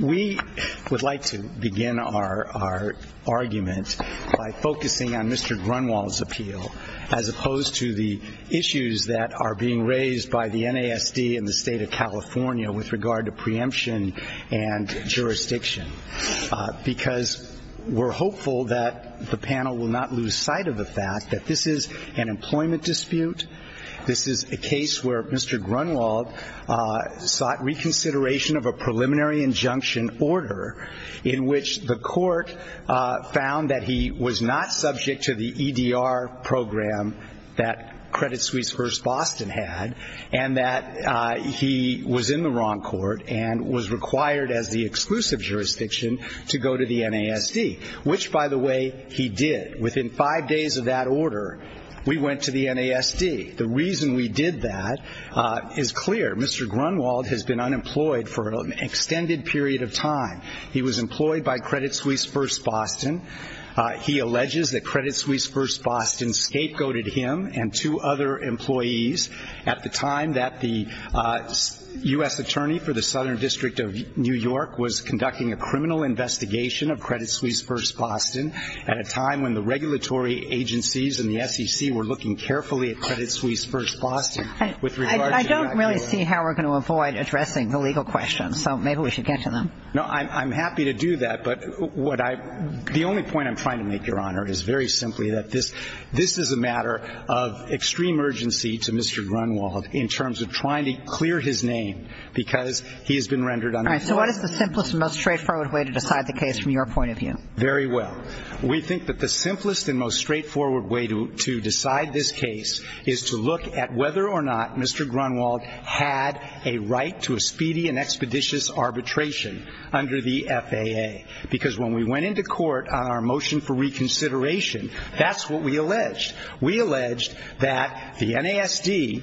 We would like to begin our argument by focusing on Mr. Grunwald's appeal, as opposed to the issues that are being raised by the NASD and the State of California with regard to preemption and jurisdiction, because we're hopeful that the panel will not lose sight of the fact that this is an employment dispute. This is a case where Mr. Grunwald sought reconsideration of a preliminary injunction order in which the court found that he was not subject to the EDR program that Credit Suisse-First Boston had and that he was in the wrong court and was required as the exclusive jurisdiction to go to the NASD, which, by the way, he did. Within five days of that order, we went to the NASD. The reason we did that is clear. Mr. Grunwald has been unemployed for an extended period of time. He was employed by Credit Suisse-First Boston. He alleges that Credit Suisse-First Boston scapegoated him and two other employees at the time that the U.S. attorney for the Southern District of New York was conducting a criminal investigation of Credit Suisse-First Boston at a time when the regulatory agencies and the SEC were looking carefully at Credit Suisse-First Boston. I don't really see how we're going to avoid addressing the legal questions, so maybe we should get to them. No, I'm happy to do that, but the only point I'm trying to make, Your Honor, is very simply that this is a matter of extreme urgency to Mr. Grunwald in terms of trying to clear his name because he has been rendered unemployed. All right. So what is the simplest and most straightforward way to decide the case from your point of view? Very well. We think that the simplest and most straightforward way to decide this case is to look at whether or not Mr. Grunwald had a right to a speedy and expeditious arbitration under the FAA. Because when we went into court on our motion for reconsideration, that's what we alleged. We alleged that the NASD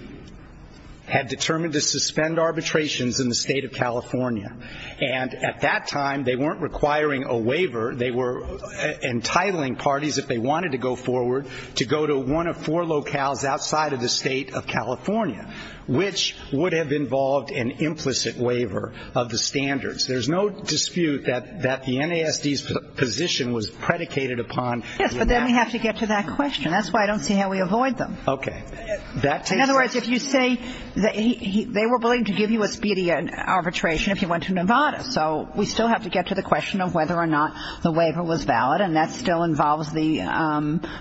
had determined to suspend arbitrations in the state of California. And at that time, they weren't requiring a waiver. They were entitling parties, if they wanted to go forward, to go to one of four locales outside of the state of California, which would have involved an implicit waiver of the standards. There's no dispute that the NASD's position was predicated upon. Yes, but then we have to get to that question. That's why I don't see how we avoid them. Okay. In other words, if you say they were willing to give you a speedy arbitration if you went to Nevada. So we still have to get to the question of whether or not the waiver was valid, and that still involves the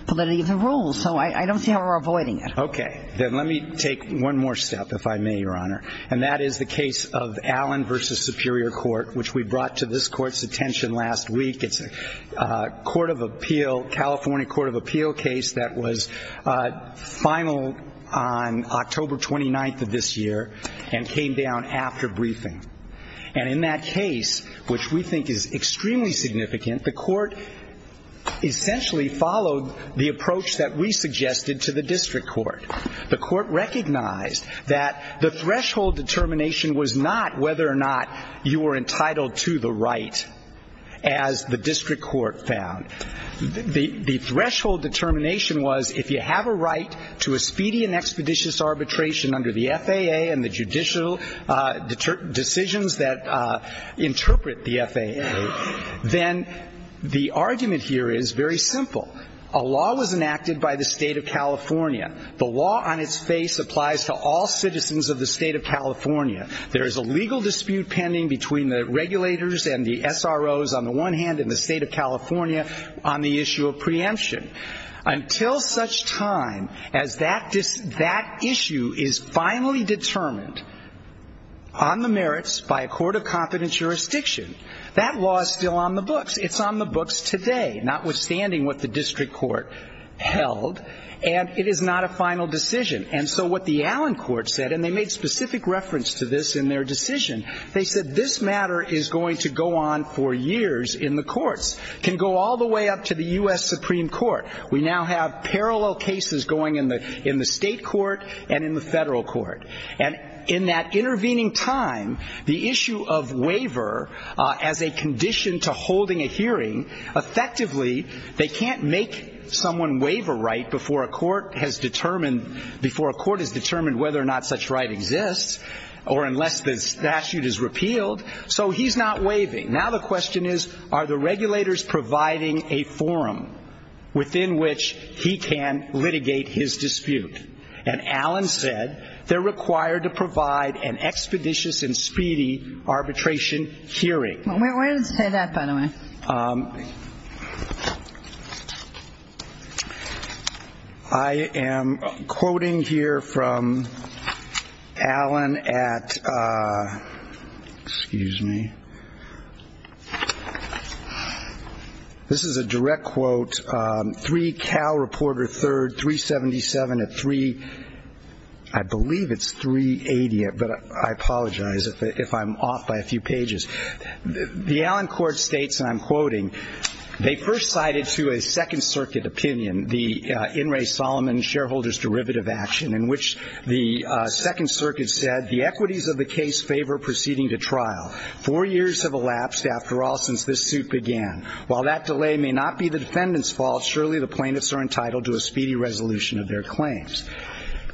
validity of the rules. So I don't see how we're avoiding it. Okay. Then let me take one more step, if I may, Your Honor. And that is the case of Allen v. Superior Court, which we brought to this court's attention last week. It's a California Court of Appeal case that was finaled on October 29th of this year and came down after briefing. And in that case, which we think is extremely significant, the court essentially followed the approach that we suggested to the district court. The court recognized that the threshold determination was not whether or not you were entitled to the right, as the district court found. The threshold determination was if you have a right to a speedy and expeditious arbitration under the FAA and the judicial decisions that interpret the FAA, then the argument here is very simple. A law was enacted by the State of California. The law on its face applies to all citizens of the State of California. There is a legal dispute pending between the regulators and the SROs on the one hand and the State of California on the issue of preemption. Until such time as that issue is finally determined on the merits by a court of confidence jurisdiction, that law is still on the books. It's on the books today, notwithstanding what the district court held, and it is not a final decision. And so what the Allen court said, and they made specific reference to this in their decision, they said this matter is going to go on for years in the courts, can go all the way up to the U.S. Supreme Court. We now have parallel cases going in the state court and in the federal court. And in that intervening time, the issue of waiver as a condition to holding a hearing, effectively they can't make someone waive a right before a court has determined whether or not such right exists or unless the statute is repealed. So he's not waiving. Now the question is, are the regulators providing a forum within which he can litigate his dispute? And Allen said they're required to provide an expeditious and speedy arbitration hearing. We're going to say that, by the way. I am quoting here from Allen at, excuse me. This is a direct quote. This is 3 Cal Reporter 3rd, 377 at 3, I believe it's 380, but I apologize if I'm off by a few pages. The Allen court states, and I'm quoting, they first cited to a second circuit opinion the In re Solomon shareholders derivative action in which the second circuit said the equities of the case favor proceeding to trial. Four years have elapsed after all since this suit began. While that delay may not be the defendant's fault, surely the plaintiffs are entitled to a speedy resolution of their claims.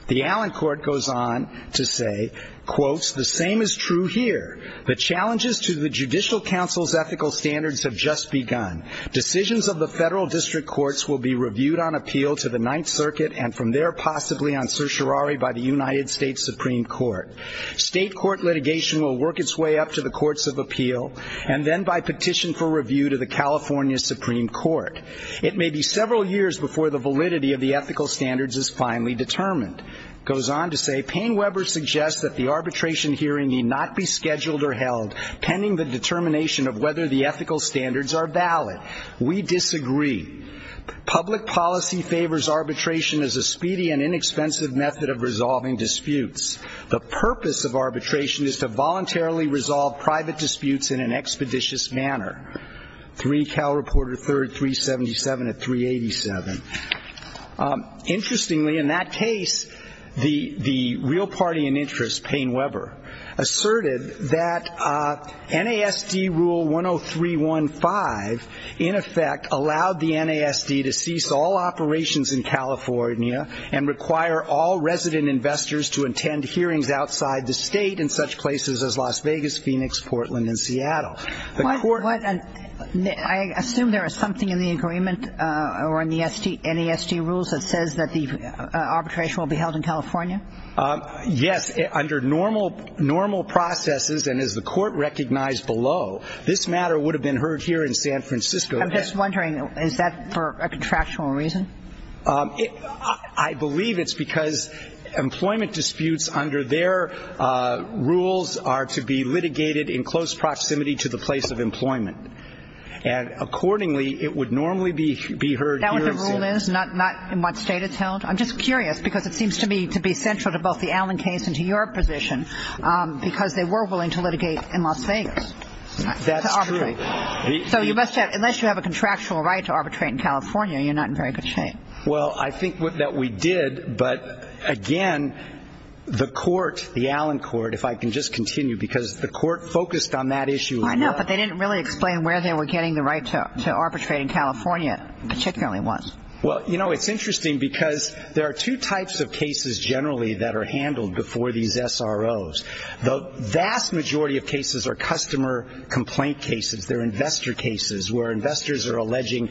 The Allen court goes on to say, quotes, the same is true here. The challenges to the judicial counsel's ethical standards have just begun. Decisions of the federal district courts will be reviewed on appeal to the ninth circuit and from there possibly on certiorari by the United States Supreme Court. State court litigation will work its way up to the courts of appeal and then by petition for review to the California Supreme Court. It may be several years before the validity of the ethical standards is finally determined. It goes on to say, Payne Weber suggests that the arbitration hearing need not be scheduled or held pending the determination of whether the ethical standards are valid. We disagree. Public policy favors arbitration as a speedy and inexpensive method of resolving disputes. The purpose of arbitration is to voluntarily resolve private disputes in an expeditious manner. 3 Cal Reporter 3rd, 377 at 387. Interestingly, in that case, the real party in interest, Payne Weber, asserted that NASD rule 10315 in effect allowed the NASD to cease all operations in California and require all resident investors to attend hearings outside the state in such places as Las Vegas, Phoenix, Portland, and Seattle. The court What? I assume there is something in the agreement or in the NASD rules that says that the arbitration will be held in California? Yes. Under normal processes and as the court recognized below, this matter would have been heard here in San Francisco. I'm just wondering, is that for a contractual reason? I believe it's because employment disputes under their rules are to be litigated in close proximity to the place of employment. And accordingly, it would normally be heard here in San Francisco. Is that what the rule is? Not in what state it's held? I'm just curious because it seems to me to be central to both the Allen case and to your position because they were willing to litigate in Las Vegas. That's true. So you must have unless you have a contractual right to arbitrate in California, you're not in very good shape. Well, I think that we did, but, again, the court, the Allen court, if I can just continue because the court focused on that issue. I know, but they didn't really explain where they were getting the right to arbitrate in California particularly was. Well, you know, it's interesting because there are two types of cases generally that are handled before these SROs. The vast majority of cases are customer complaint cases. They're investor cases where investors are alleging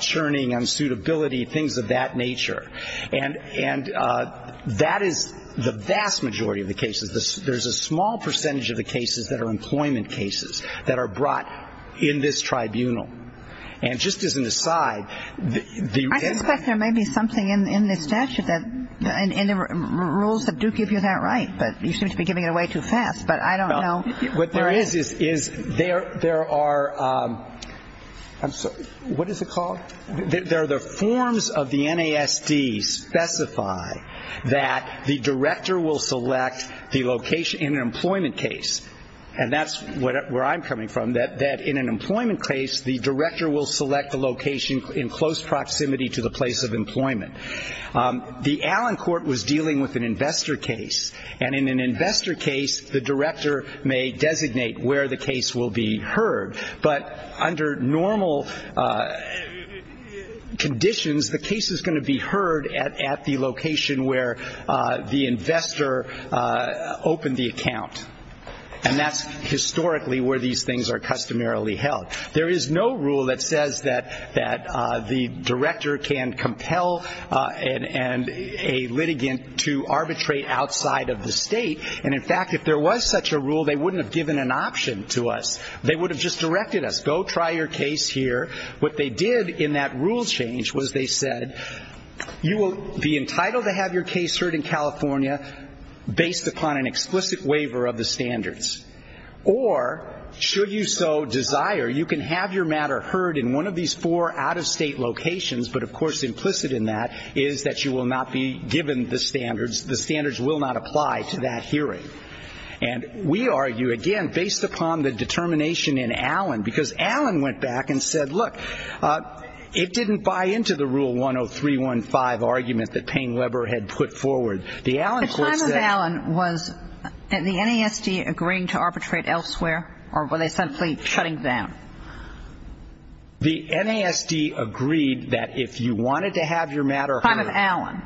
churning, unsuitability, things of that nature. And that is the vast majority of the cases. There's a small percentage of the cases that are employment cases that are brought in this tribunal. And just as an aside. I suspect there may be something in the statute and the rules that do give you that right, but you seem to be giving it away too fast, but I don't know. What there is is there are the forms of the NASD specify that the director will select the location in an employment case. And that's where I'm coming from, that in an employment case, the director will select the location in close proximity to the place of employment. The Allen court was dealing with an investor case. And in an investor case, the director may designate where the case will be heard. But under normal conditions, the case is going to be heard at the location where the investor opened the account. And that's historically where these things are customarily held. There is no rule that says that the director can compel a litigant to arbitrate outside of the state. And, in fact, if there was such a rule, they wouldn't have given an option to us. They would have just directed us, go try your case here. What they did in that rule change was they said, you will be entitled to have your case heard in California based upon an explicit waiver of the standards. Or, should you so desire, you can have your matter heard in one of these four out-of-state locations, but, of course, implicit in that is that you will not be given the standards. The standards will not apply to that hearing. And we argue, again, based upon the determination in Allen, because Allen went back and said, look, it didn't buy into the Rule 10315 argument that Payne Weber had put forward. The time of Allen, was the NASD agreeing to arbitrate elsewhere, or were they simply shutting down? The NASD agreed that if you wanted to have your matter heard. Time of Allen.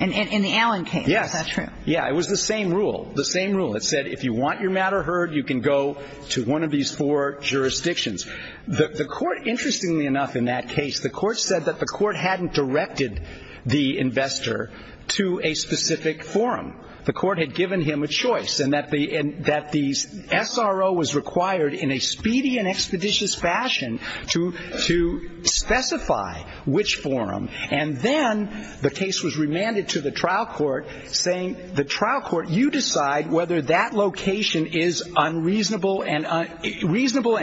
In the Allen case, is that true? Yes. Yeah, it was the same rule. The same rule. It said if you want your matter heard, you can go to one of these four jurisdictions. The court, interestingly enough in that case, the court said that the court hadn't directed the investor to a specific forum. The court had given him a choice, and that the SRO was required in a speedy and expeditious fashion to specify which forum. And then the case was remanded to the trial court, saying, the trial court, you decide whether that location is unreasonable and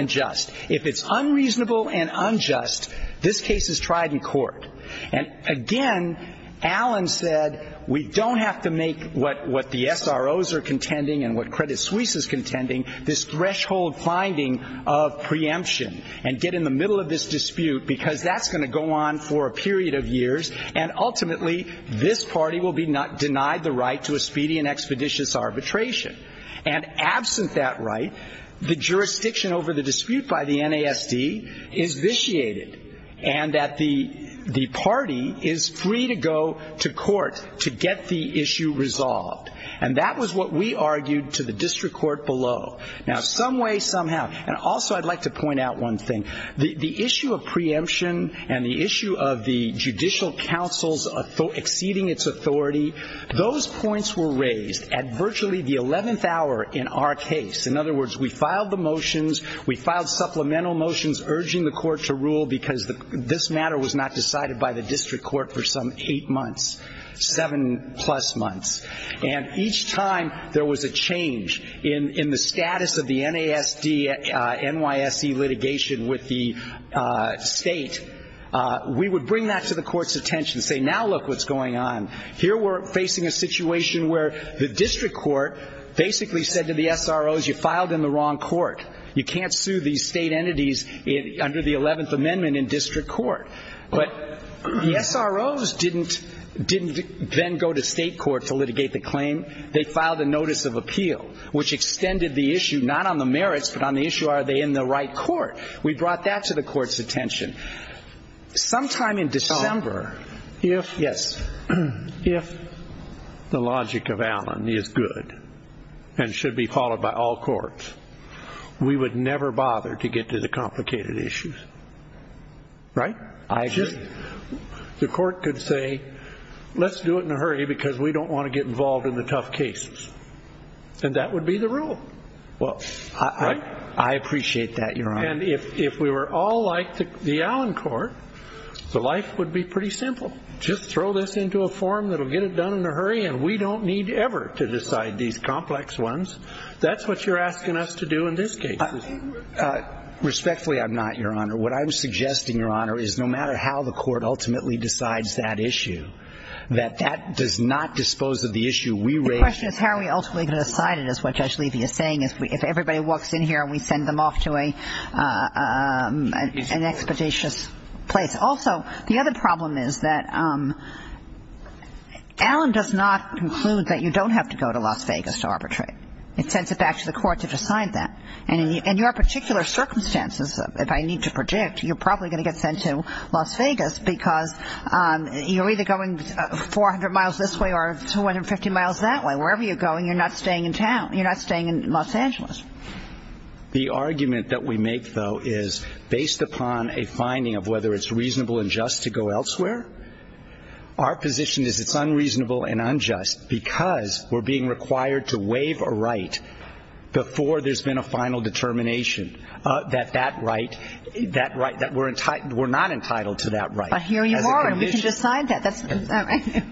just. If it's unreasonable and unjust, this case is tried in court. And again, Allen said, we don't have to make what the SROs are contending and what Credit Suisse is contending, this threshold finding of preemption, and get in the middle of this dispute, because that's going to go on for a period of years, and ultimately this party will be denied the right to a speedy and expeditious arbitration. And absent that right, the jurisdiction over the dispute by the NASD is vitiated, and that the party is free to go to court to get the issue resolved. And that was what we argued to the district court below. Now, some way, some how. And also I'd like to point out one thing. The issue of preemption and the issue of the judicial counsel's exceeding its authority, those points were raised at virtually the 11th hour in our case. In other words, we filed the motions, we filed supplemental motions urging the court to rule, because this matter was not decided by the district court for some eight months, seven-plus months. And each time there was a change in the status of the NASD-NYSE litigation with the state, we would bring that to the court's attention, say, now look what's going on. Here we're facing a situation where the district court basically said to the SROs, you filed in the wrong court. You can't sue these state entities under the 11th Amendment in district court. But the SROs didn't then go to state court to litigate the claim. They filed a notice of appeal, which extended the issue not on the merits, but on the issue are they in the right court. We brought that to the court's attention. Sometime in December, if the logic of Allen is good and should be followed by all courts, we would never bother to get to the complicated issues. Right? I agree. The court could say, let's do it in a hurry because we don't want to get involved in the tough cases. I appreciate that, Your Honor. And if we were all like the Allen court, the life would be pretty simple. Just throw this into a forum that will get it done in a hurry, and we don't need ever to decide these complex ones. That's what you're asking us to do in this case. Respectfully, I'm not, Your Honor. What I'm suggesting, Your Honor, is no matter how the court ultimately decides that issue, that that does not dispose of the issue we raised. The question is how are we ultimately going to decide it is what Judge Levy is saying. If everybody walks in here and we send them off to an expeditious place. Also, the other problem is that Allen does not conclude that you don't have to go to Las Vegas to arbitrate. It sends it back to the court to decide that. And in your particular circumstances, if I need to predict, you're probably going to get sent to Las Vegas because you're either going 400 miles this way or 250 miles that way. And wherever you're going, you're not staying in town. You're not staying in Los Angeles. The argument that we make, though, is based upon a finding of whether it's reasonable and just to go elsewhere. Our position is it's unreasonable and unjust because we're being required to waive a right before there's been a final determination that that right, that right, that we're not entitled to that right. But here you are, and we can decide that.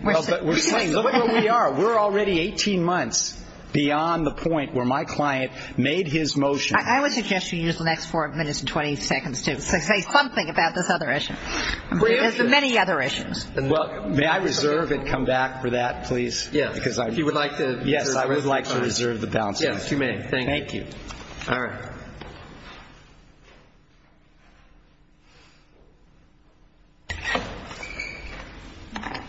We're saying look where we are. We're already 18 months beyond the point where my client made his motion. I would suggest you use the next four minutes and 20 seconds to say something about this other issue. There's many other issues. May I reserve and come back for that, please? Yes. Yes, I would like to reserve the balance. Yes, you may. Thank you. All right.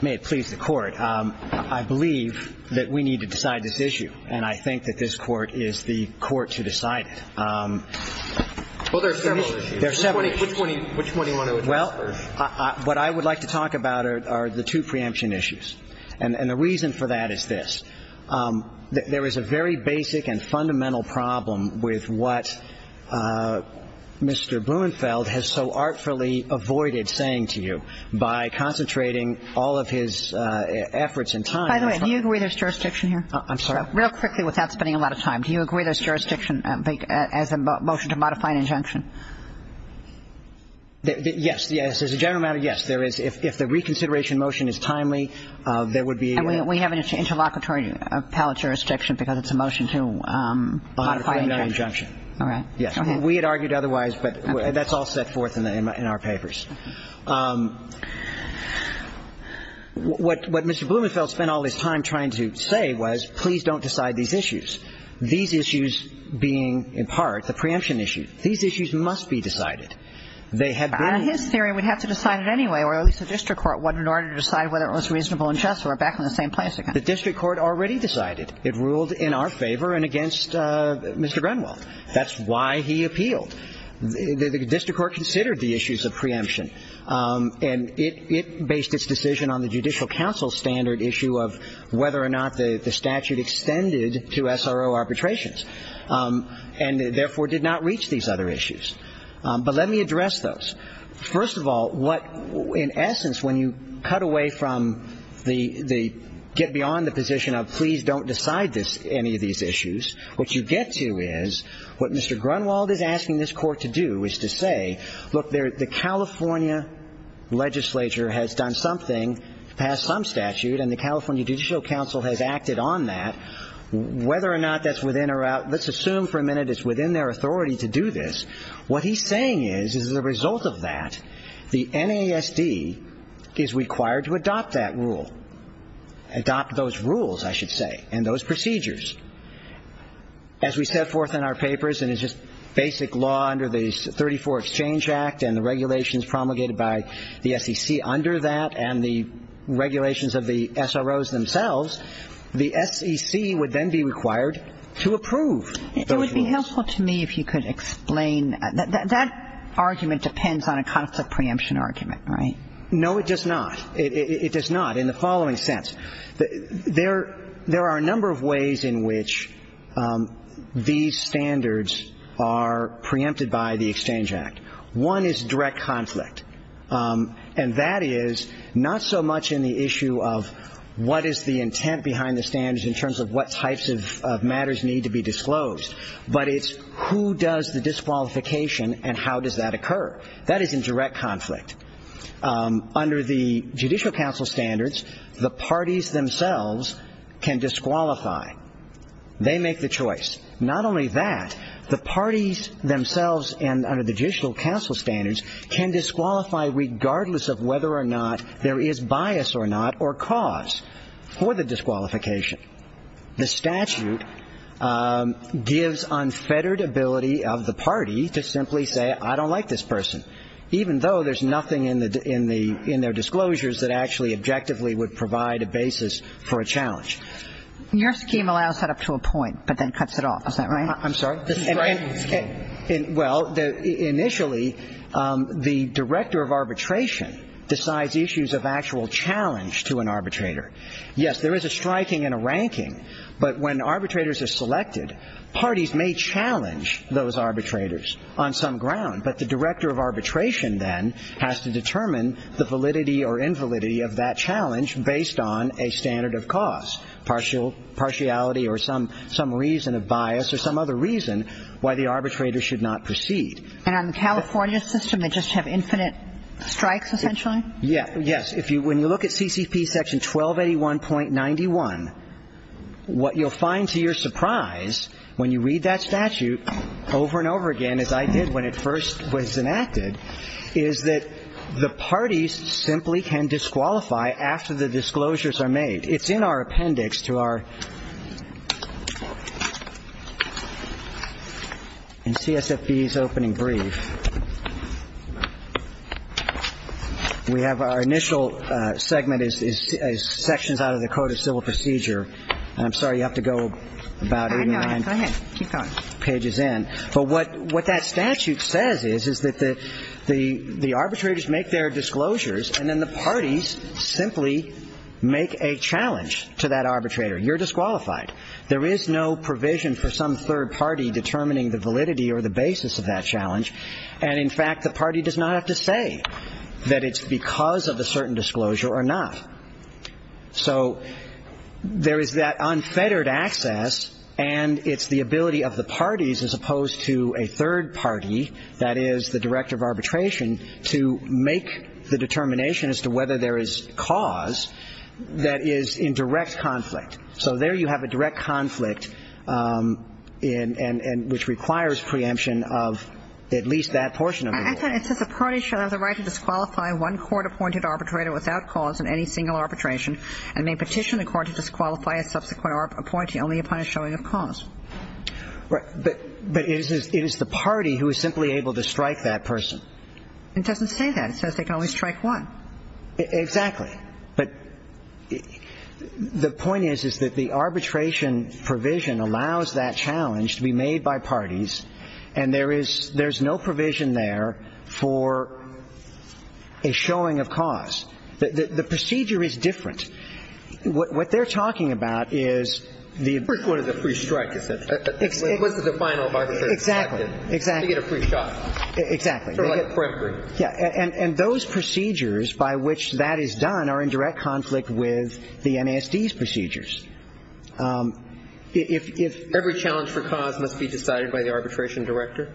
May it please the Court. I believe that we need to decide this issue, and I think that this Court is the Court to decide it. Well, there are several issues. There are several issues. Which one do you want to address first? Well, what I would like to talk about are the two preemption issues. And the reason for that is this. There is a very basic and fundamental problem with what Mr. Blumenfeld has so artfully avoided saying to you by concentrating all of his efforts and time. By the way, do you agree there's jurisdiction here? I'm sorry. Real quickly without spending a lot of time. Do you agree there's jurisdiction as a motion to modify an injunction? Yes. Yes. As a general matter, yes. There is. If the reconsideration motion is timely, there would be a union. And we have an interlocutory appellate jurisdiction because it's a motion to modify an injunction. All right. Yes. We had argued otherwise, but that's all set forth in our papers. What Mr. Blumenfeld spent all his time trying to say was, please don't decide these issues. These issues being, in part, the preemption issue. These issues must be decided. They have been. On his theory, we'd have to decide it anyway, or at least the district court would in order to decide whether it was reasonable and just or back in the same place again. The district court already decided. It ruled in our favor and against Mr. Grunwald. That's why he appealed. The district court considered the issues of preemption. And it based its decision on the Judicial Council standard issue of whether or not the statute extended to SRO arbitrations and therefore did not reach these other issues. But let me address those. First of all, in essence, when you cut away from the get beyond the position of please don't decide any of these issues, what you get to is what Mr. Grunwald is asking this court to do is to say, look, the California legislature has done something, passed some statute, and the California Judicial Council has acted on that. Whether or not that's within or out, let's assume for a minute it's within their authority to do this. What he's saying is, as a result of that, the NASD is required to adopt that rule, adopt those rules, I should say, and those procedures. As we set forth in our papers, and it's just basic law under the 34th Exchange Act and the regulations promulgated by the SEC under that and the regulations of the SROs themselves, the SEC would then be required to approve those rules. It would be helpful to me if you could explain. That argument depends on a conflict preemption argument, right? No, it does not. It does not in the following sense. There are a number of ways in which these standards are preempted by the Exchange Act. One is direct conflict, and that is not so much in the issue of what is the intent behind the standards in terms of what types of matters need to be disclosed, but it's who does the disqualification and how does that occur. That is in direct conflict. Under the Judicial Council standards, the parties themselves can disqualify. They make the choice. Not only that, the parties themselves and under the Judicial Council standards can disqualify regardless of whether or not there is bias or not or cause for the disqualification. The statute gives unfettered ability of the party to simply say, I don't like this person, even though there's nothing in their disclosures that actually objectively would provide a basis for a challenge. Your scheme allows that up to a point, but then cuts it off. Is that right? I'm sorry? Well, initially, the director of arbitration decides issues of actual challenge to an arbitrator. Yes, there is a striking and a ranking, but when arbitrators are selected, parties may challenge those arbitrators on some ground, but the director of arbitration then has to determine the validity or invalidity of that challenge based on a standard of cause, partiality or some reason of bias or some other reason why the arbitrator should not proceed. And on the California system, they just have infinite strikes, essentially? Yes. When you look at CCP section 1281.91, what you'll find to your surprise when you read that statute over and over again, as I did when it first was enacted, is that the parties simply can disqualify after the disclosures are made. It's in our appendix to our CSFB's opening brief. We have our initial segment as sections out of the Code of Civil Procedure. And I'm sorry, you have to go about 89 pages in. But what that statute says is that the arbitrators make their disclosures and then the parties simply make a challenge to that arbitrator. You're disqualified. There is no provision for some third party determining the validity or the basis of that challenge. And, in fact, the party does not have to say that it's because of a certain disclosure or not. So there is that unfettered access, and it's the ability of the parties, as opposed to a third party, that is the director of arbitration, to make the determination as to whether there is cause that is in direct conflict. So there you have a direct conflict which requires preemption of at least that portion of the law. It says the parties shall have the right to disqualify one court-appointed arbitrator without cause in any single arbitration and may petition the court to disqualify a subsequent appointee only upon a showing of cause. But it is the party who is simply able to strike that person. It doesn't say that. It says they can only strike one. Exactly. But the point is, is that the arbitration provision allows that challenge to be made by parties, and there is no provision there for a showing of cause. The procedure is different. What they're talking about is the ---- First one is a free strike, you said. What's the final arbitration? Exactly. To get a free shot. Exactly. Sort of like a predatory. And those procedures by which that is done are in direct conflict with the NASD's procedures. Every challenge for cause must be decided by the arbitration director?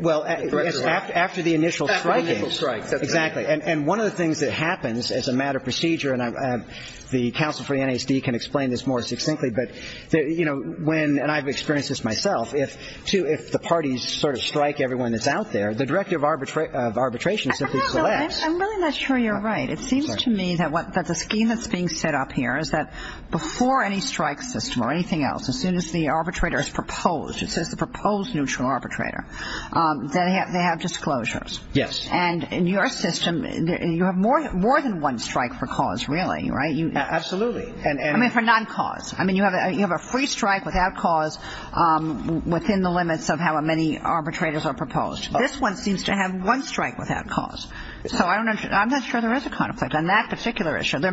Well, after the initial striking. After the initial strike. Exactly. And one of the things that happens as a matter of procedure, and the counsel for the NASD can explain this more succinctly, but, you know, when, and I've experienced this myself, if the parties sort of strike everyone that's out there, the director of arbitration simply selects ---- I'm really not sure you're right. It seems to me that the scheme that's being set up here is that before any strike system or anything else, as soon as the arbitrator is proposed, it says the proposed neutral arbitrator, that they have disclosures. Yes. And in your system, you have more than one strike for cause, really, right? Absolutely. I mean, for non-cause. I mean, you have a free strike without cause within the limits of how many arbitrators are proposed. This one seems to have one strike without cause. So I'm not sure there is a conflict on that particular issue. There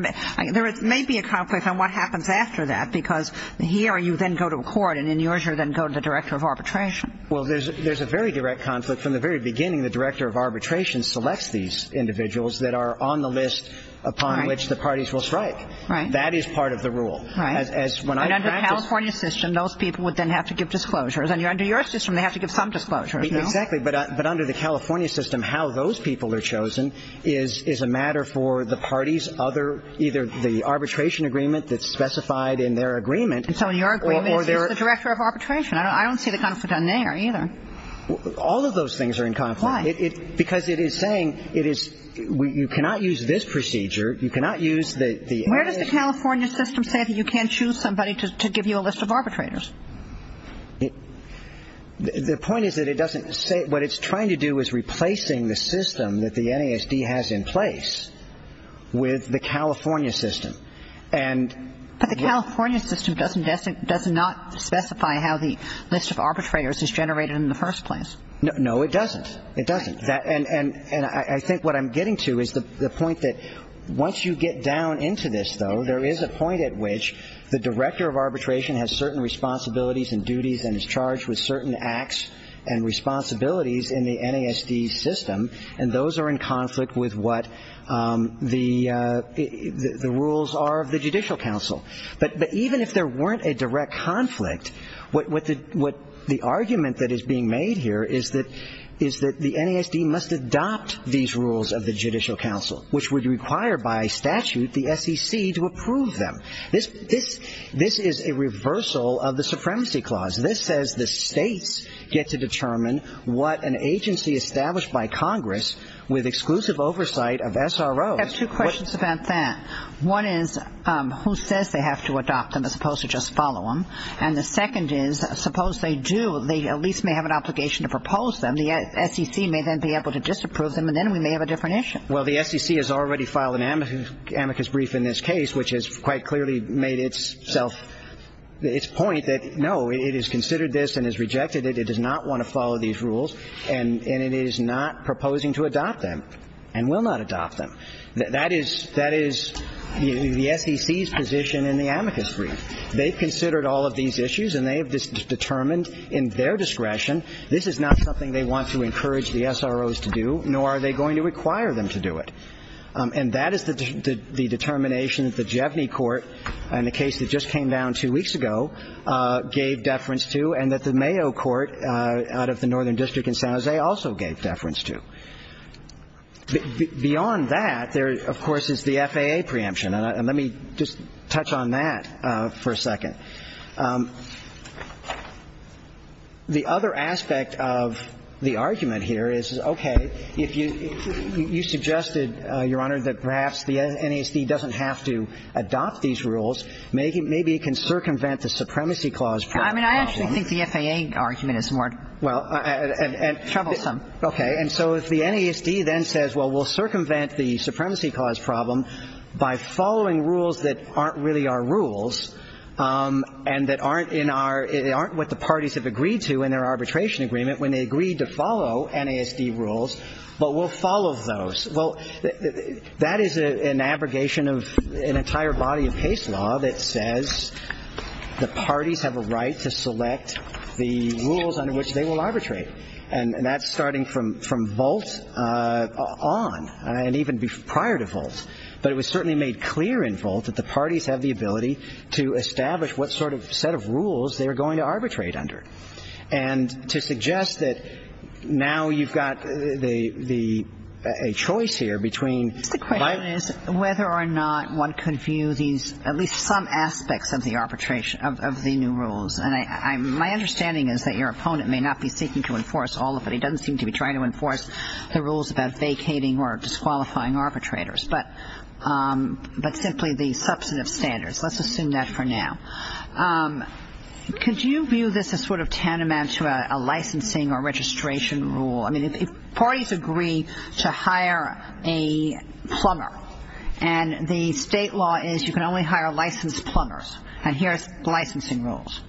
may be a conflict on what happens after that because here you then go to a court, and in yours you then go to the director of arbitration. Well, there's a very direct conflict. From the very beginning, the director of arbitration selects these individuals that are on the list upon which the parties will strike. Right. That is part of the rule. Right. And under the California system, those people would then have to give disclosures. And under your system, they have to give some disclosures. Exactly. Right. But under the California system, how those people are chosen is a matter for the parties, either the arbitration agreement that's specified in their agreement. So in your agreement, it's just the director of arbitration. I don't see the conflict on there either. All of those things are in conflict. Why? Because it is saying you cannot use this procedure. You cannot use the MS. Where does the California system say that you can't choose somebody to give you a list of arbitrators? The point is that it doesn't say it. What it's trying to do is replacing the system that the NASD has in place with the California system. But the California system doesn't specify how the list of arbitrators is generated in the first place. No, it doesn't. It doesn't. And I think what I'm getting to is the point that once you get down into this, though, there is a point at which the director of arbitration has certain responsibilities and duties and is charged with certain acts and responsibilities in the NASD system, and those are in conflict with what the rules are of the Judicial Council. But even if there weren't a direct conflict, the argument that is being made here is that the NASD must adopt these rules of the Judicial Council, which would require by statute the SEC to approve them. This is a reversal of the Supremacy Clause. This says the states get to determine what an agency established by Congress with exclusive oversight of SROs. I have two questions about that. One is who says they have to adopt them as opposed to just follow them, and the second is suppose they do, they at least may have an obligation to propose them. The SEC may then be able to disapprove them, and then we may have a different issue. Well, the SEC has already filed an amicus brief in this case, which has quite clearly made its point that, no, it has considered this and has rejected it. It does not want to follow these rules, and it is not proposing to adopt them and will not adopt them. That is the SEC's position in the amicus brief. They've considered all of these issues, and they have determined in their discretion this is not something they want to encourage the SROs to do, nor are they going to require them to do it. And that is the determination that the Jeveny court in the case that just came down two weeks ago gave deference to and that the Mayo court out of the Northern District in San Jose also gave deference to. Beyond that, there, of course, is the FAA preemption, and let me just touch on that for a second. The other aspect of the argument here is, okay, if you suggested, Your Honor, that perhaps the NASD doesn't have to adopt these rules, maybe it can circumvent the Supremacy Clause problem. I mean, I actually think the FAA argument is more troublesome. Okay. And so if the NASD then says, well, we'll circumvent the Supremacy Clause problem by following rules that aren't really our rules and that aren't what the parties have agreed to in their arbitration agreement when they agreed to follow NASD rules, but we'll follow those. Well, that is an abrogation of an entire body of case law that says the parties have a right to select the rules under which they will arbitrate. And that's starting from Volt on and even prior to Volt. But it was certainly made clear in Volt that the parties have the ability to establish what sort of set of rules they're going to arbitrate under and to suggest that now you've got a choice here between. The question is whether or not one can view these, at least some aspects of the arbitration, of the new rules. And my understanding is that your opponent may not be seeking to enforce all of it. He doesn't seem to be trying to enforce the rules about vacating or disqualifying arbitrators, but simply the substantive standards. Let's assume that for now. Could you view this as sort of tantamount to a licensing or registration rule? I mean, if parties agree to hire a plumber and the state law is you can only hire licensed plumbers, and here's licensing rules,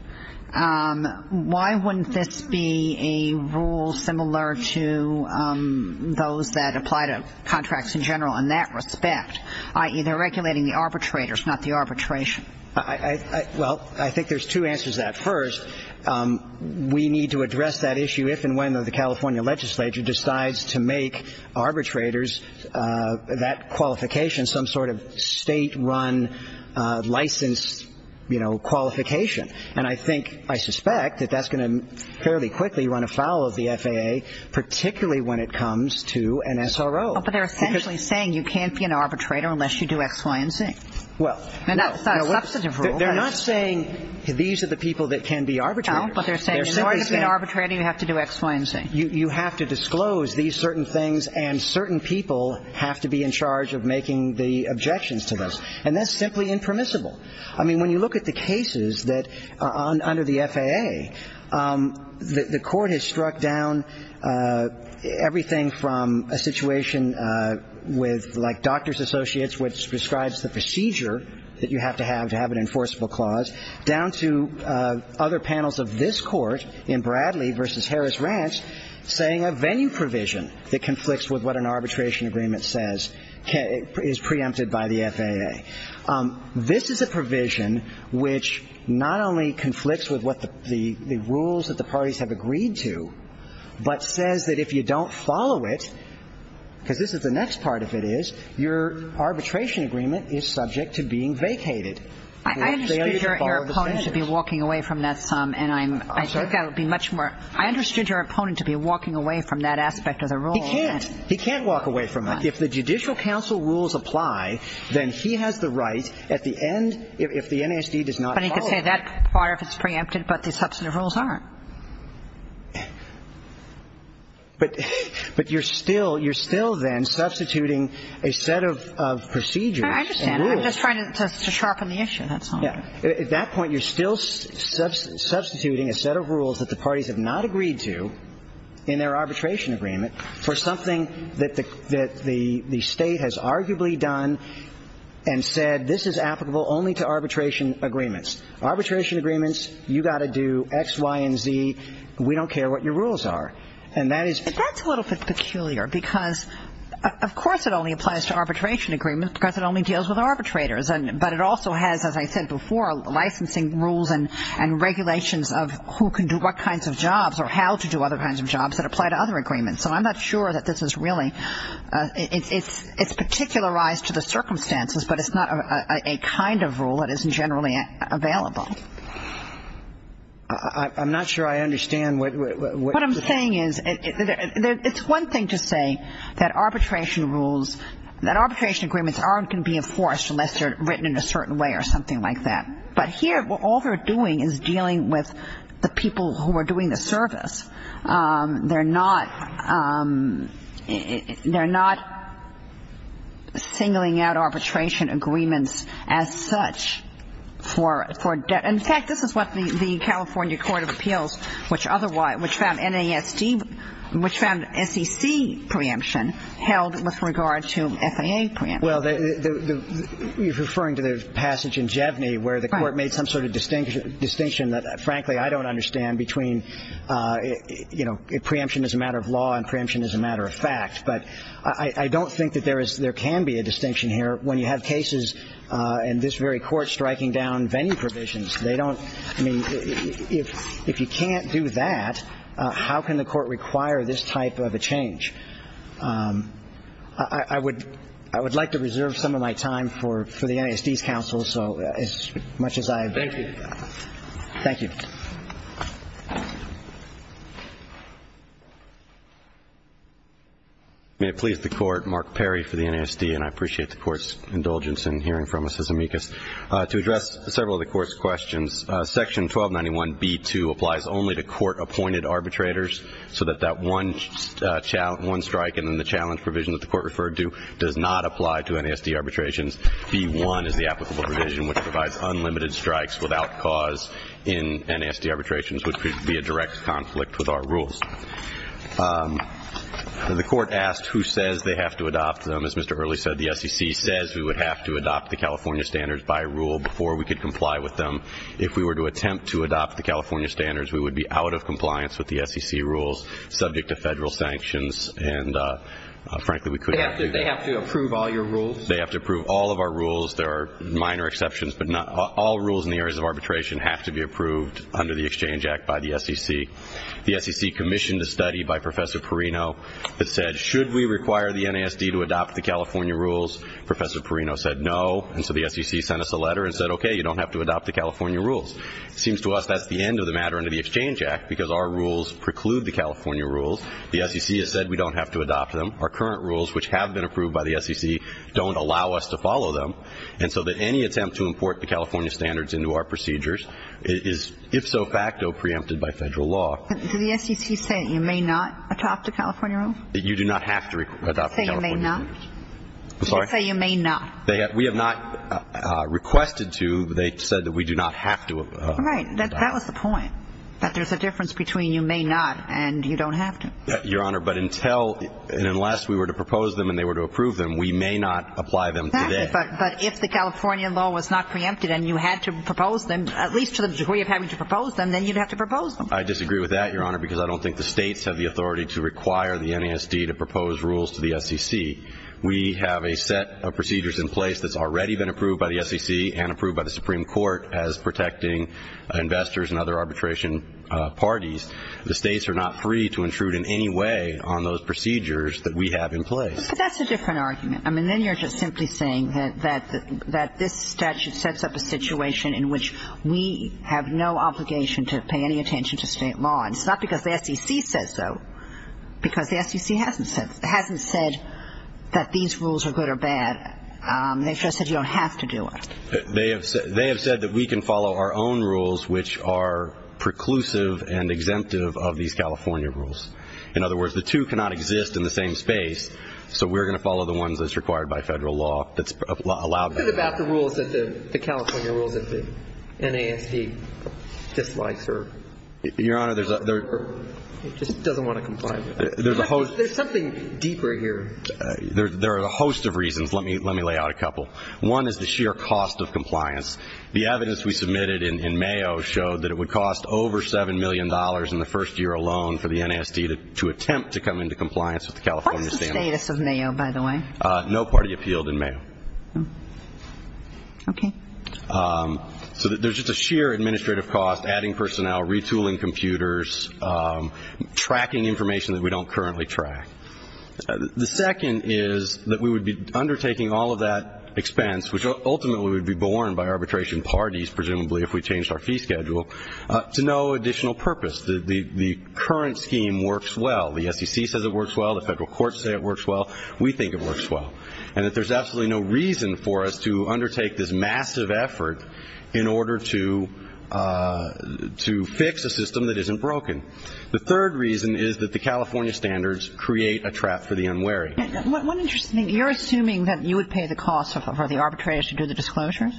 why wouldn't this be a rule similar to those that apply to contracts in general in that respect, i.e., they're regulating the arbitrators, not the arbitration? Well, I think there's two answers to that. First, we need to address that issue if and when the California legislature decides to make arbitrators, that qualification, some sort of state-run license, you know, qualification. And I think, I suspect that that's going to fairly quickly run afoul of the FAA, particularly when it comes to an SRO. But they're essentially saying you can't be an arbitrator unless you do X, Y, and Z. Well, no. And that's a substantive rule. They're not saying these are the people that can be arbitrators. No, but they're saying in order to be an arbitrator, you have to do X, Y, and Z. You have to disclose these certain things, and certain people have to be in charge of making the objections to this. And that's simply impermissible. I mean, when you look at the cases that are under the FAA, the court has struck down everything from a situation with, like, doctor's associates, which prescribes the procedure that you have to have to have an enforceable clause, down to other panels of this Court in Bradley v. Harris Ranch saying a venue provision that conflicts with what an arbitration agreement says is preempted by the FAA. This is a provision which not only conflicts with what the rules that the parties have agreed to, but says that if you don't follow it, because this is the next part of it is, your arbitration agreement is subject to being vacated. I understand your opponent should be walking away from that some, and I think that would be much more. I understood your opponent to be walking away from that aspect of the rule. He can't. He can't walk away from that. If the Judicial Council rules apply, then he has the right at the end, if the NASD does not follow it. But he could say that part of it is preempted, but the substantive rules aren't. I'm just trying to sharpen the issue, that's all. At that point, you're still substituting a set of rules that the parties have not agreed to in their arbitration agreement for something that the State has arguably done and said this is applicable only to arbitration agreements. Arbitration agreements, you've got to do X, Y, and Z. We don't care what your rules are. That's a little bit peculiar because, of course, it only applies to arbitration agreements because it only deals with arbitrators, but it also has, as I said before, licensing rules and regulations of who can do what kinds of jobs or how to do other kinds of jobs that apply to other agreements. So I'm not sure that this is really – it's particularized to the circumstances, but it's not a kind of rule that is generally available. I'm not sure I understand what you're saying. It's one thing to say that arbitration rules – that arbitration agreements aren't going to be enforced unless they're written in a certain way or something like that. But here, all they're doing is dealing with the people who are doing the service. They're not – they're not singling out arbitration agreements as such for – in fact, this is what the California Court of Appeals, which found NASD – which found SEC preemption held with regard to FAA preemption. Well, you're referring to the passage in Jevney where the court made some sort of distinction that, frankly, I don't understand between – you know, preemption is a matter of law and preemption is a matter of fact. But I don't think that there is – there can be a distinction here when you have cases and this very court striking down venue provisions. They don't – I mean, if you can't do that, how can the court require this type of a change? I would like to reserve some of my time for the NASD's counsel, so as much as I've – Thank you. Thank you. May it please the Court, Mark Perry for the NASD, and I appreciate the Court's indulgence in hearing from us as amicus. To address several of the Court's questions, Section 1291B2 applies only to court-appointed arbitrators, so that that one strike and then the challenge provision that the Court referred to does not apply to NASD arbitrations. B1 is the applicable provision, which provides unlimited strikes without cause in NASD. The court asked who says they have to adopt them. As Mr. Early said, the SEC says we would have to adopt the California standards by rule before we could comply with them. If we were to attempt to adopt the California standards, we would be out of compliance with the SEC rules subject to Federal sanctions, and frankly, we couldn't do that. They have to approve all your rules? They have to approve all of our rules. There are minor exceptions, but all rules in the areas of arbitration have to be approved under the Exchange Act by the SEC. The SEC commissioned a study by Professor Perino that said, should we require the NASD to adopt the California rules? Professor Perino said no, and so the SEC sent us a letter and said, okay, you don't have to adopt the California rules. It seems to us that's the end of the matter under the Exchange Act because our rules preclude the California rules. The SEC has said we don't have to adopt them. Our current rules, which have been approved by the SEC, don't allow us to follow them, and so that any attempt to import the California standards into our procedures is if so facto preempted by Federal law. Did the SEC say you may not adopt the California rules? You do not have to adopt the California standards. Did they say you may not? I'm sorry? Did they say you may not? We have not requested to. They said that we do not have to. Right. That was the point, that there's a difference between you may not and you don't have to. Your Honor, but until and unless we were to propose them and they were to approve them, we may not apply them today. But if the California law was not preempted and you had to propose them, at least to the degree of having to propose them, then you'd have to propose them. I disagree with that, Your Honor, because I don't think the states have the authority to require the NASD to propose rules to the SEC. We have a set of procedures in place that's already been approved by the SEC and approved by the Supreme Court as protecting investors and other arbitration parties. The states are not free to intrude in any way on those procedures that we have in place. But that's a different argument. I mean, then you're just simply saying that this statute sets up a situation in which we have no obligation to pay any attention to state law. And it's not because the SEC says so, because the SEC hasn't said that these rules are good or bad. They've just said you don't have to do it. They have said that we can follow our own rules, which are preclusive and exemptive of these California rules. In other words, the two cannot exist in the same space, so we're going to follow the ones that's required by federal law that's allowed by the SEC. What about the California rules that the NASD dislikes or doesn't want to comply with? There's something deeper here. There are a host of reasons. Let me lay out a couple. One is the sheer cost of compliance. The evidence we submitted in Mayo showed that it would cost over $7 million in the first year alone for the NASD to attempt to come into compliance with the California standards. What was the status of Mayo, by the way? No party appealed in Mayo. Okay. So there's just a sheer administrative cost, adding personnel, retooling computers, tracking information that we don't currently track. The second is that we would be undertaking all of that expense, which ultimately would be borne by arbitration parties, presumably if we changed our fee schedule, to no additional purpose. The current scheme works well. The SEC says it works well. The federal courts say it works well. We think it works well. And that there's absolutely no reason for us to undertake this massive effort in order to fix a system that isn't broken. The third reason is that the California standards create a trap for the unwary. One interesting thing, you're assuming that you would pay the cost for the arbitrators to do the disclosures?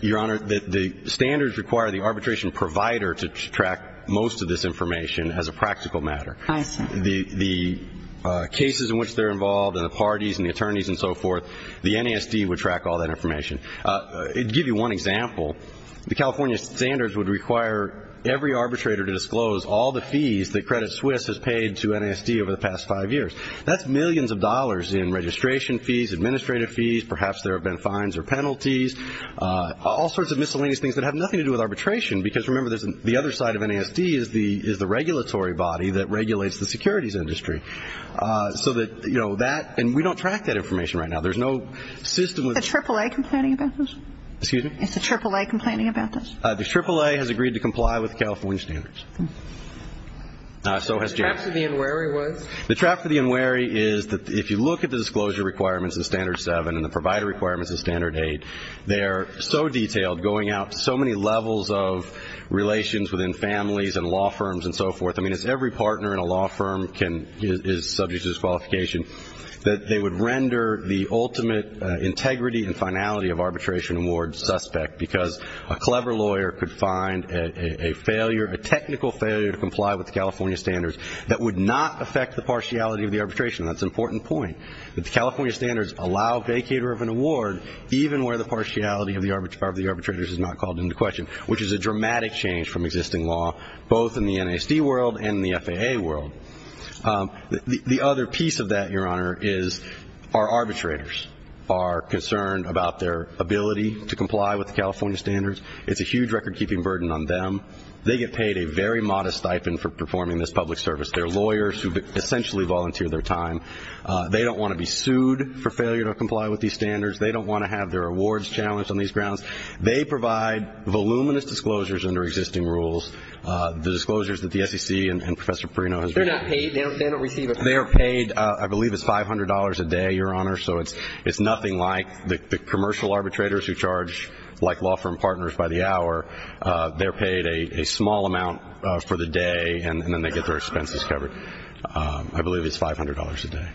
Your Honor, the standards require the arbitration provider to track most of this information as a practical matter. I see. The cases in which they're involved and the parties and the attorneys and so forth, the NASD would track all that information. To give you one example, the California standards would require every arbitrator to disclose all the fees that Credit Suisse has paid to NASD over the past five years. That's millions of dollars in registration fees, administrative fees, perhaps there have been fines or penalties, all sorts of miscellaneous things that have nothing to do with arbitration, because remember the other side of NASD is the regulatory body that regulates the securities industry. So that, you know, that, and we don't track that information right now. There's no system. Is the AAA complaining about this? Excuse me? Is the AAA complaining about this? The AAA has agreed to comply with the California standards. The trap for the unwary was? The trap for the unwary is that if you look at the disclosure requirements in Standard 7 and the provider requirements in Standard 8, they are so detailed going out to so many levels of relations within families and law firms and so forth. I mean, it's every partner in a law firm can, is subject to disqualification, that they would render the ultimate integrity and finality of arbitration awards suspect, because a clever lawyer could find a failure, a technical failure, to comply with the California standards that would not affect the partiality of the arbitration. That's an important point. The California standards allow vacater of an award even where the partiality of the arbitrators is not called into question, which is a dramatic change from existing law, both in the NASD world and the FAA world. The other piece of that, Your Honor, is our arbitrators are concerned about their ability to comply with the California standards. It's a huge record-keeping burden on them. They get paid a very modest stipend for performing this public service. They're lawyers who essentially volunteer their time. They don't want to be sued for failure to comply with these standards. They don't want to have their awards challenged on these grounds. They provide voluminous disclosures under existing rules, the disclosures that the SEC and Professor Perino has written. They're not paid. They don't receive it. They are paid, I believe it's $500 a day, Your Honor, so it's nothing like the commercial arbitrators who charge like law firm partners by the hour. They're paid a small amount for the day, and then they get their expenses covered. I believe it's $500 a day.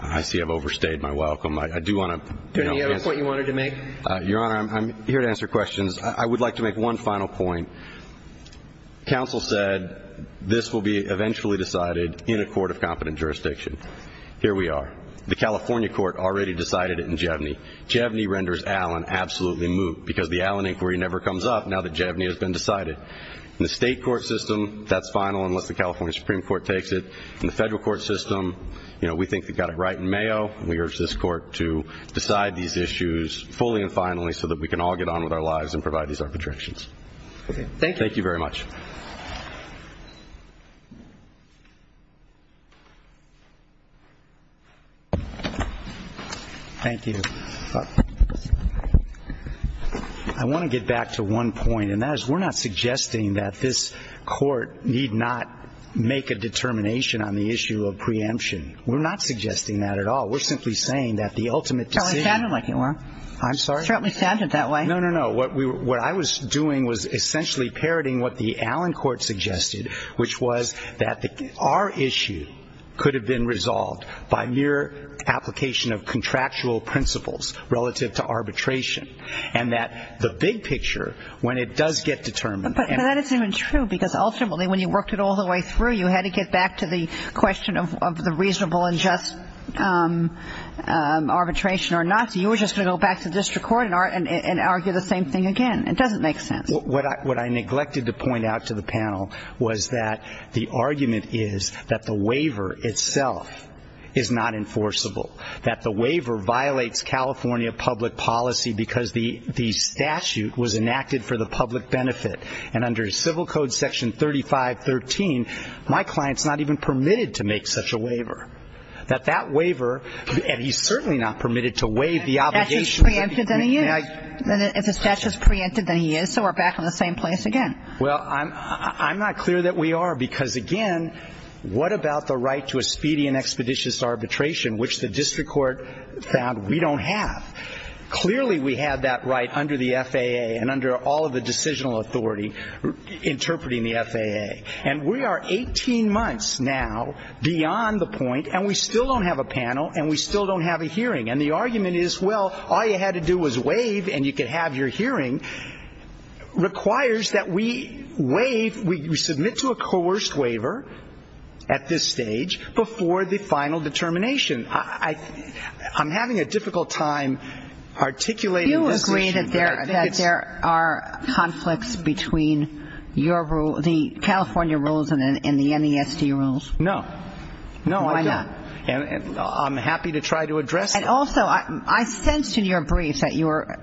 I see I've overstayed my welcome. I do want to be honest. Do you have a point you wanted to make? Your Honor, I'm here to answer questions. I would like to make one final point. Counsel said this will be eventually decided in a court of competent jurisdiction. Here we are. The California court already decided it in Jevenny. Jevenny renders Allen absolutely moot because the Allen inquiry never comes up now that Jevenny has been decided. In the state court system, that's final unless the California Supreme Court takes it. In the federal court system, you know, we think they've got it right in Mayo, and we urge this court to decide these issues fully and finally so that we can all get on with our lives and provide these arbitrations. Thank you. Thank you very much. Thank you. I want to get back to one point, and that is we're not suggesting that this court need not make a determination on the issue of preemption. We're not suggesting that at all. We're simply saying that the ultimate decision. I'm sorry? No, no, no. What I was doing was essentially parroting what the Allen court suggested, which was that our issue could have been resolved by mere application of contractual principles relative to arbitration, and that the big picture, when it does get determined. But that isn't even true because ultimately when you worked it all the way through, you had to get back to the question of the reasonable and just arbitration or not. So you were just going to go back to the district court and argue the same thing again. It doesn't make sense. What I neglected to point out to the panel was that the argument is that the waiver itself is not enforceable, that the waiver violates California public policy because the statute was enacted for the public benefit. And under Civil Code Section 3513, my client's not even permitted to make such a waiver, that that waiver, and he's certainly not permitted to waive the obligation. If the statute's preempted, then he is, so we're back in the same place again. Well, I'm not clear that we are because, again, what about the right to a speedy and expeditious arbitration, which the district court found we don't have? Clearly we have that right under the FAA and under all of the decisional authority interpreting the FAA. And we are 18 months now beyond the point, and we still don't have a panel, and we still don't have a hearing. And the argument is, well, all you had to do was waive and you could have your hearing, requires that we waive, we submit to a coerced waiver at this stage before the final determination. I'm having a difficult time articulating this issue. Do you agree that there are conflicts between your rule, the California rules and the NESD rules? No. No, I don't. Why not? I'm happy to try to address it. And also, I sensed in your briefs that you were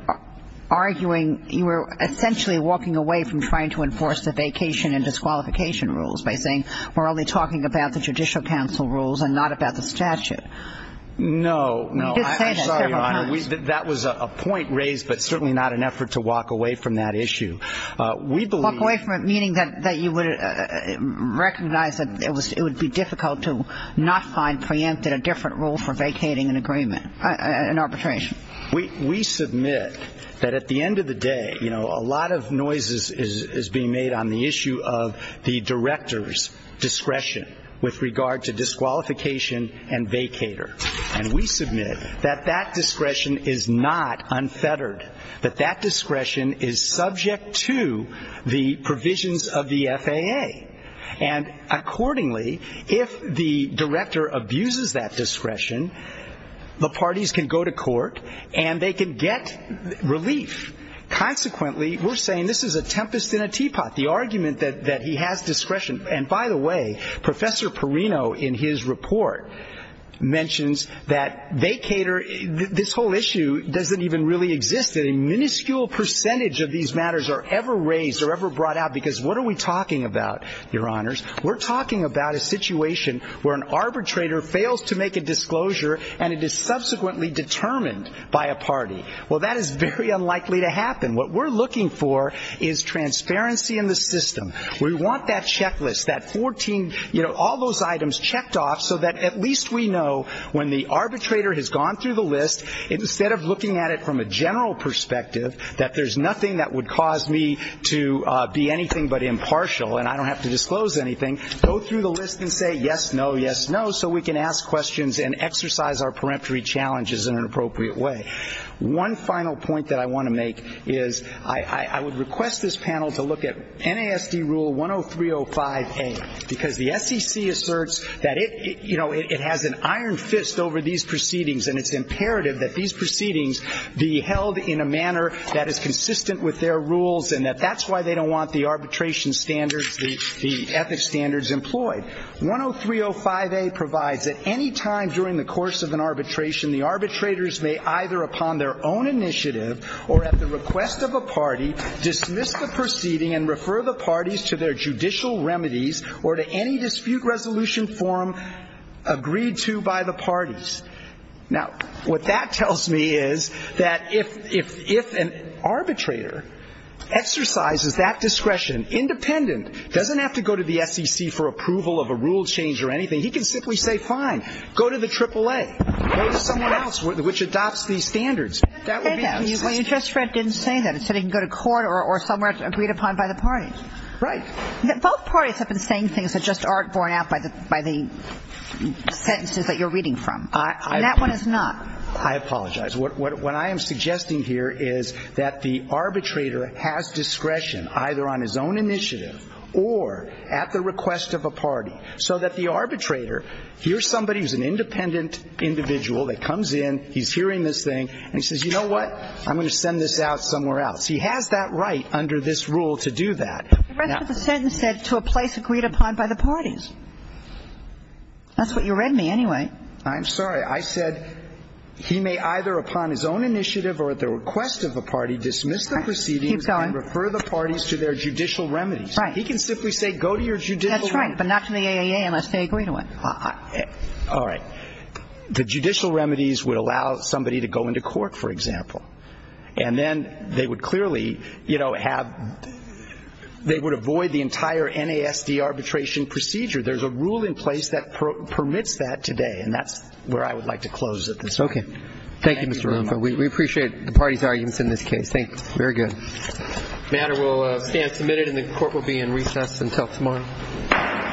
arguing, you were essentially walking away from trying to enforce the vacation and disqualification rules by saying we're only talking about the Judicial Council rules and not about the statute. No, no. You did say that several times. I'm sorry, Your Honor. That was a point raised, but certainly not an effort to walk away from that issue. Walk away from it, meaning that you would recognize that it would be difficult to not find preempted a different rule for vacating an agreement, an arbitration. We submit that at the end of the day, you know, a lot of noise is being made on the issue of the director's discretion with regard to disqualification and vacater. And we submit that that discretion is not unfettered, that that discretion is subject to the provisions of the FAA. And accordingly, if the director abuses that discretion, the parties can go to court and they can get relief. Consequently, we're saying this is a tempest in a teapot, the argument that he has discretion. And by the way, Professor Perino in his report mentions that vacater, this whole issue doesn't even really exist. A minuscule percentage of these matters are ever raised or ever brought out because what are we talking about, Your Honors? We're talking about a situation where an arbitrator fails to make a disclosure and it is subsequently determined by a party. Well, that is very unlikely to happen. What we're looking for is transparency in the system. We want that checklist, that 14, you know, all those items checked off so that at least we know when the arbitrator has gone through the list, instead of looking at it from a general perspective, that there's nothing that would cause me to be anything but impartial and I don't have to disclose anything, go through the list and say yes, no, yes, no, so we can ask questions and exercise our peremptory challenges in an appropriate way. One final point that I want to make is I would request this panel to look at NASD Rule 10305A, because the SEC asserts that it, you know, it has an iron fist over these proceedings and it's imperative that these proceedings be held in a manner that is consistent with their rules and that that's why they don't want the arbitration standards, the ethics standards employed. 10305A provides that any time during the course of an arbitration, the arbitrators may either upon their own initiative or at the request of a party, dismiss the proceeding and refer the parties to their judicial remedies or to any dispute resolution form agreed to by the parties. Now, what that tells me is that if an arbitrator exercises that discretion, independent, doesn't have to go to the SEC for approval of a rule change or anything, he can simply say fine, go to the AAA, go to someone else which adopts these standards. Well, you just read didn't say that. It said he can go to court or somewhere agreed upon by the parties. Right. Both parties have been saying things that just aren't borne out by the sentences that you're reading from. And that one is not. I apologize. What I am suggesting here is that the arbitrator has discretion either on his own initiative or at the request of a party so that the arbitrator hears somebody who's an independent individual that comes in, he's hearing this thing, and he says, you know what, I'm going to send this out somewhere else. He has that right under this rule to do that. The rest of the sentence said to a place agreed upon by the parties. That's what you read me anyway. I'm sorry. I said he may either upon his own initiative or at the request of a party dismiss the proceedings and refer the parties to their judicial remedies. Right. He can simply say go to your judicial remedy. That's right, but not to the AAA unless they agree to it. All right. The judicial remedies would allow somebody to go into court, for example. And then they would clearly, you know, have they would avoid the entire NASD arbitration procedure. There's a rule in place that permits that today, and that's where I would like to close at this point. Okay. Thank you, Mr. Romo. We appreciate the parties' arguments in this case. Thanks. Very good. The matter will stand submitted and the court will be in recess until tomorrow. Thank you. Thank you. Thank you.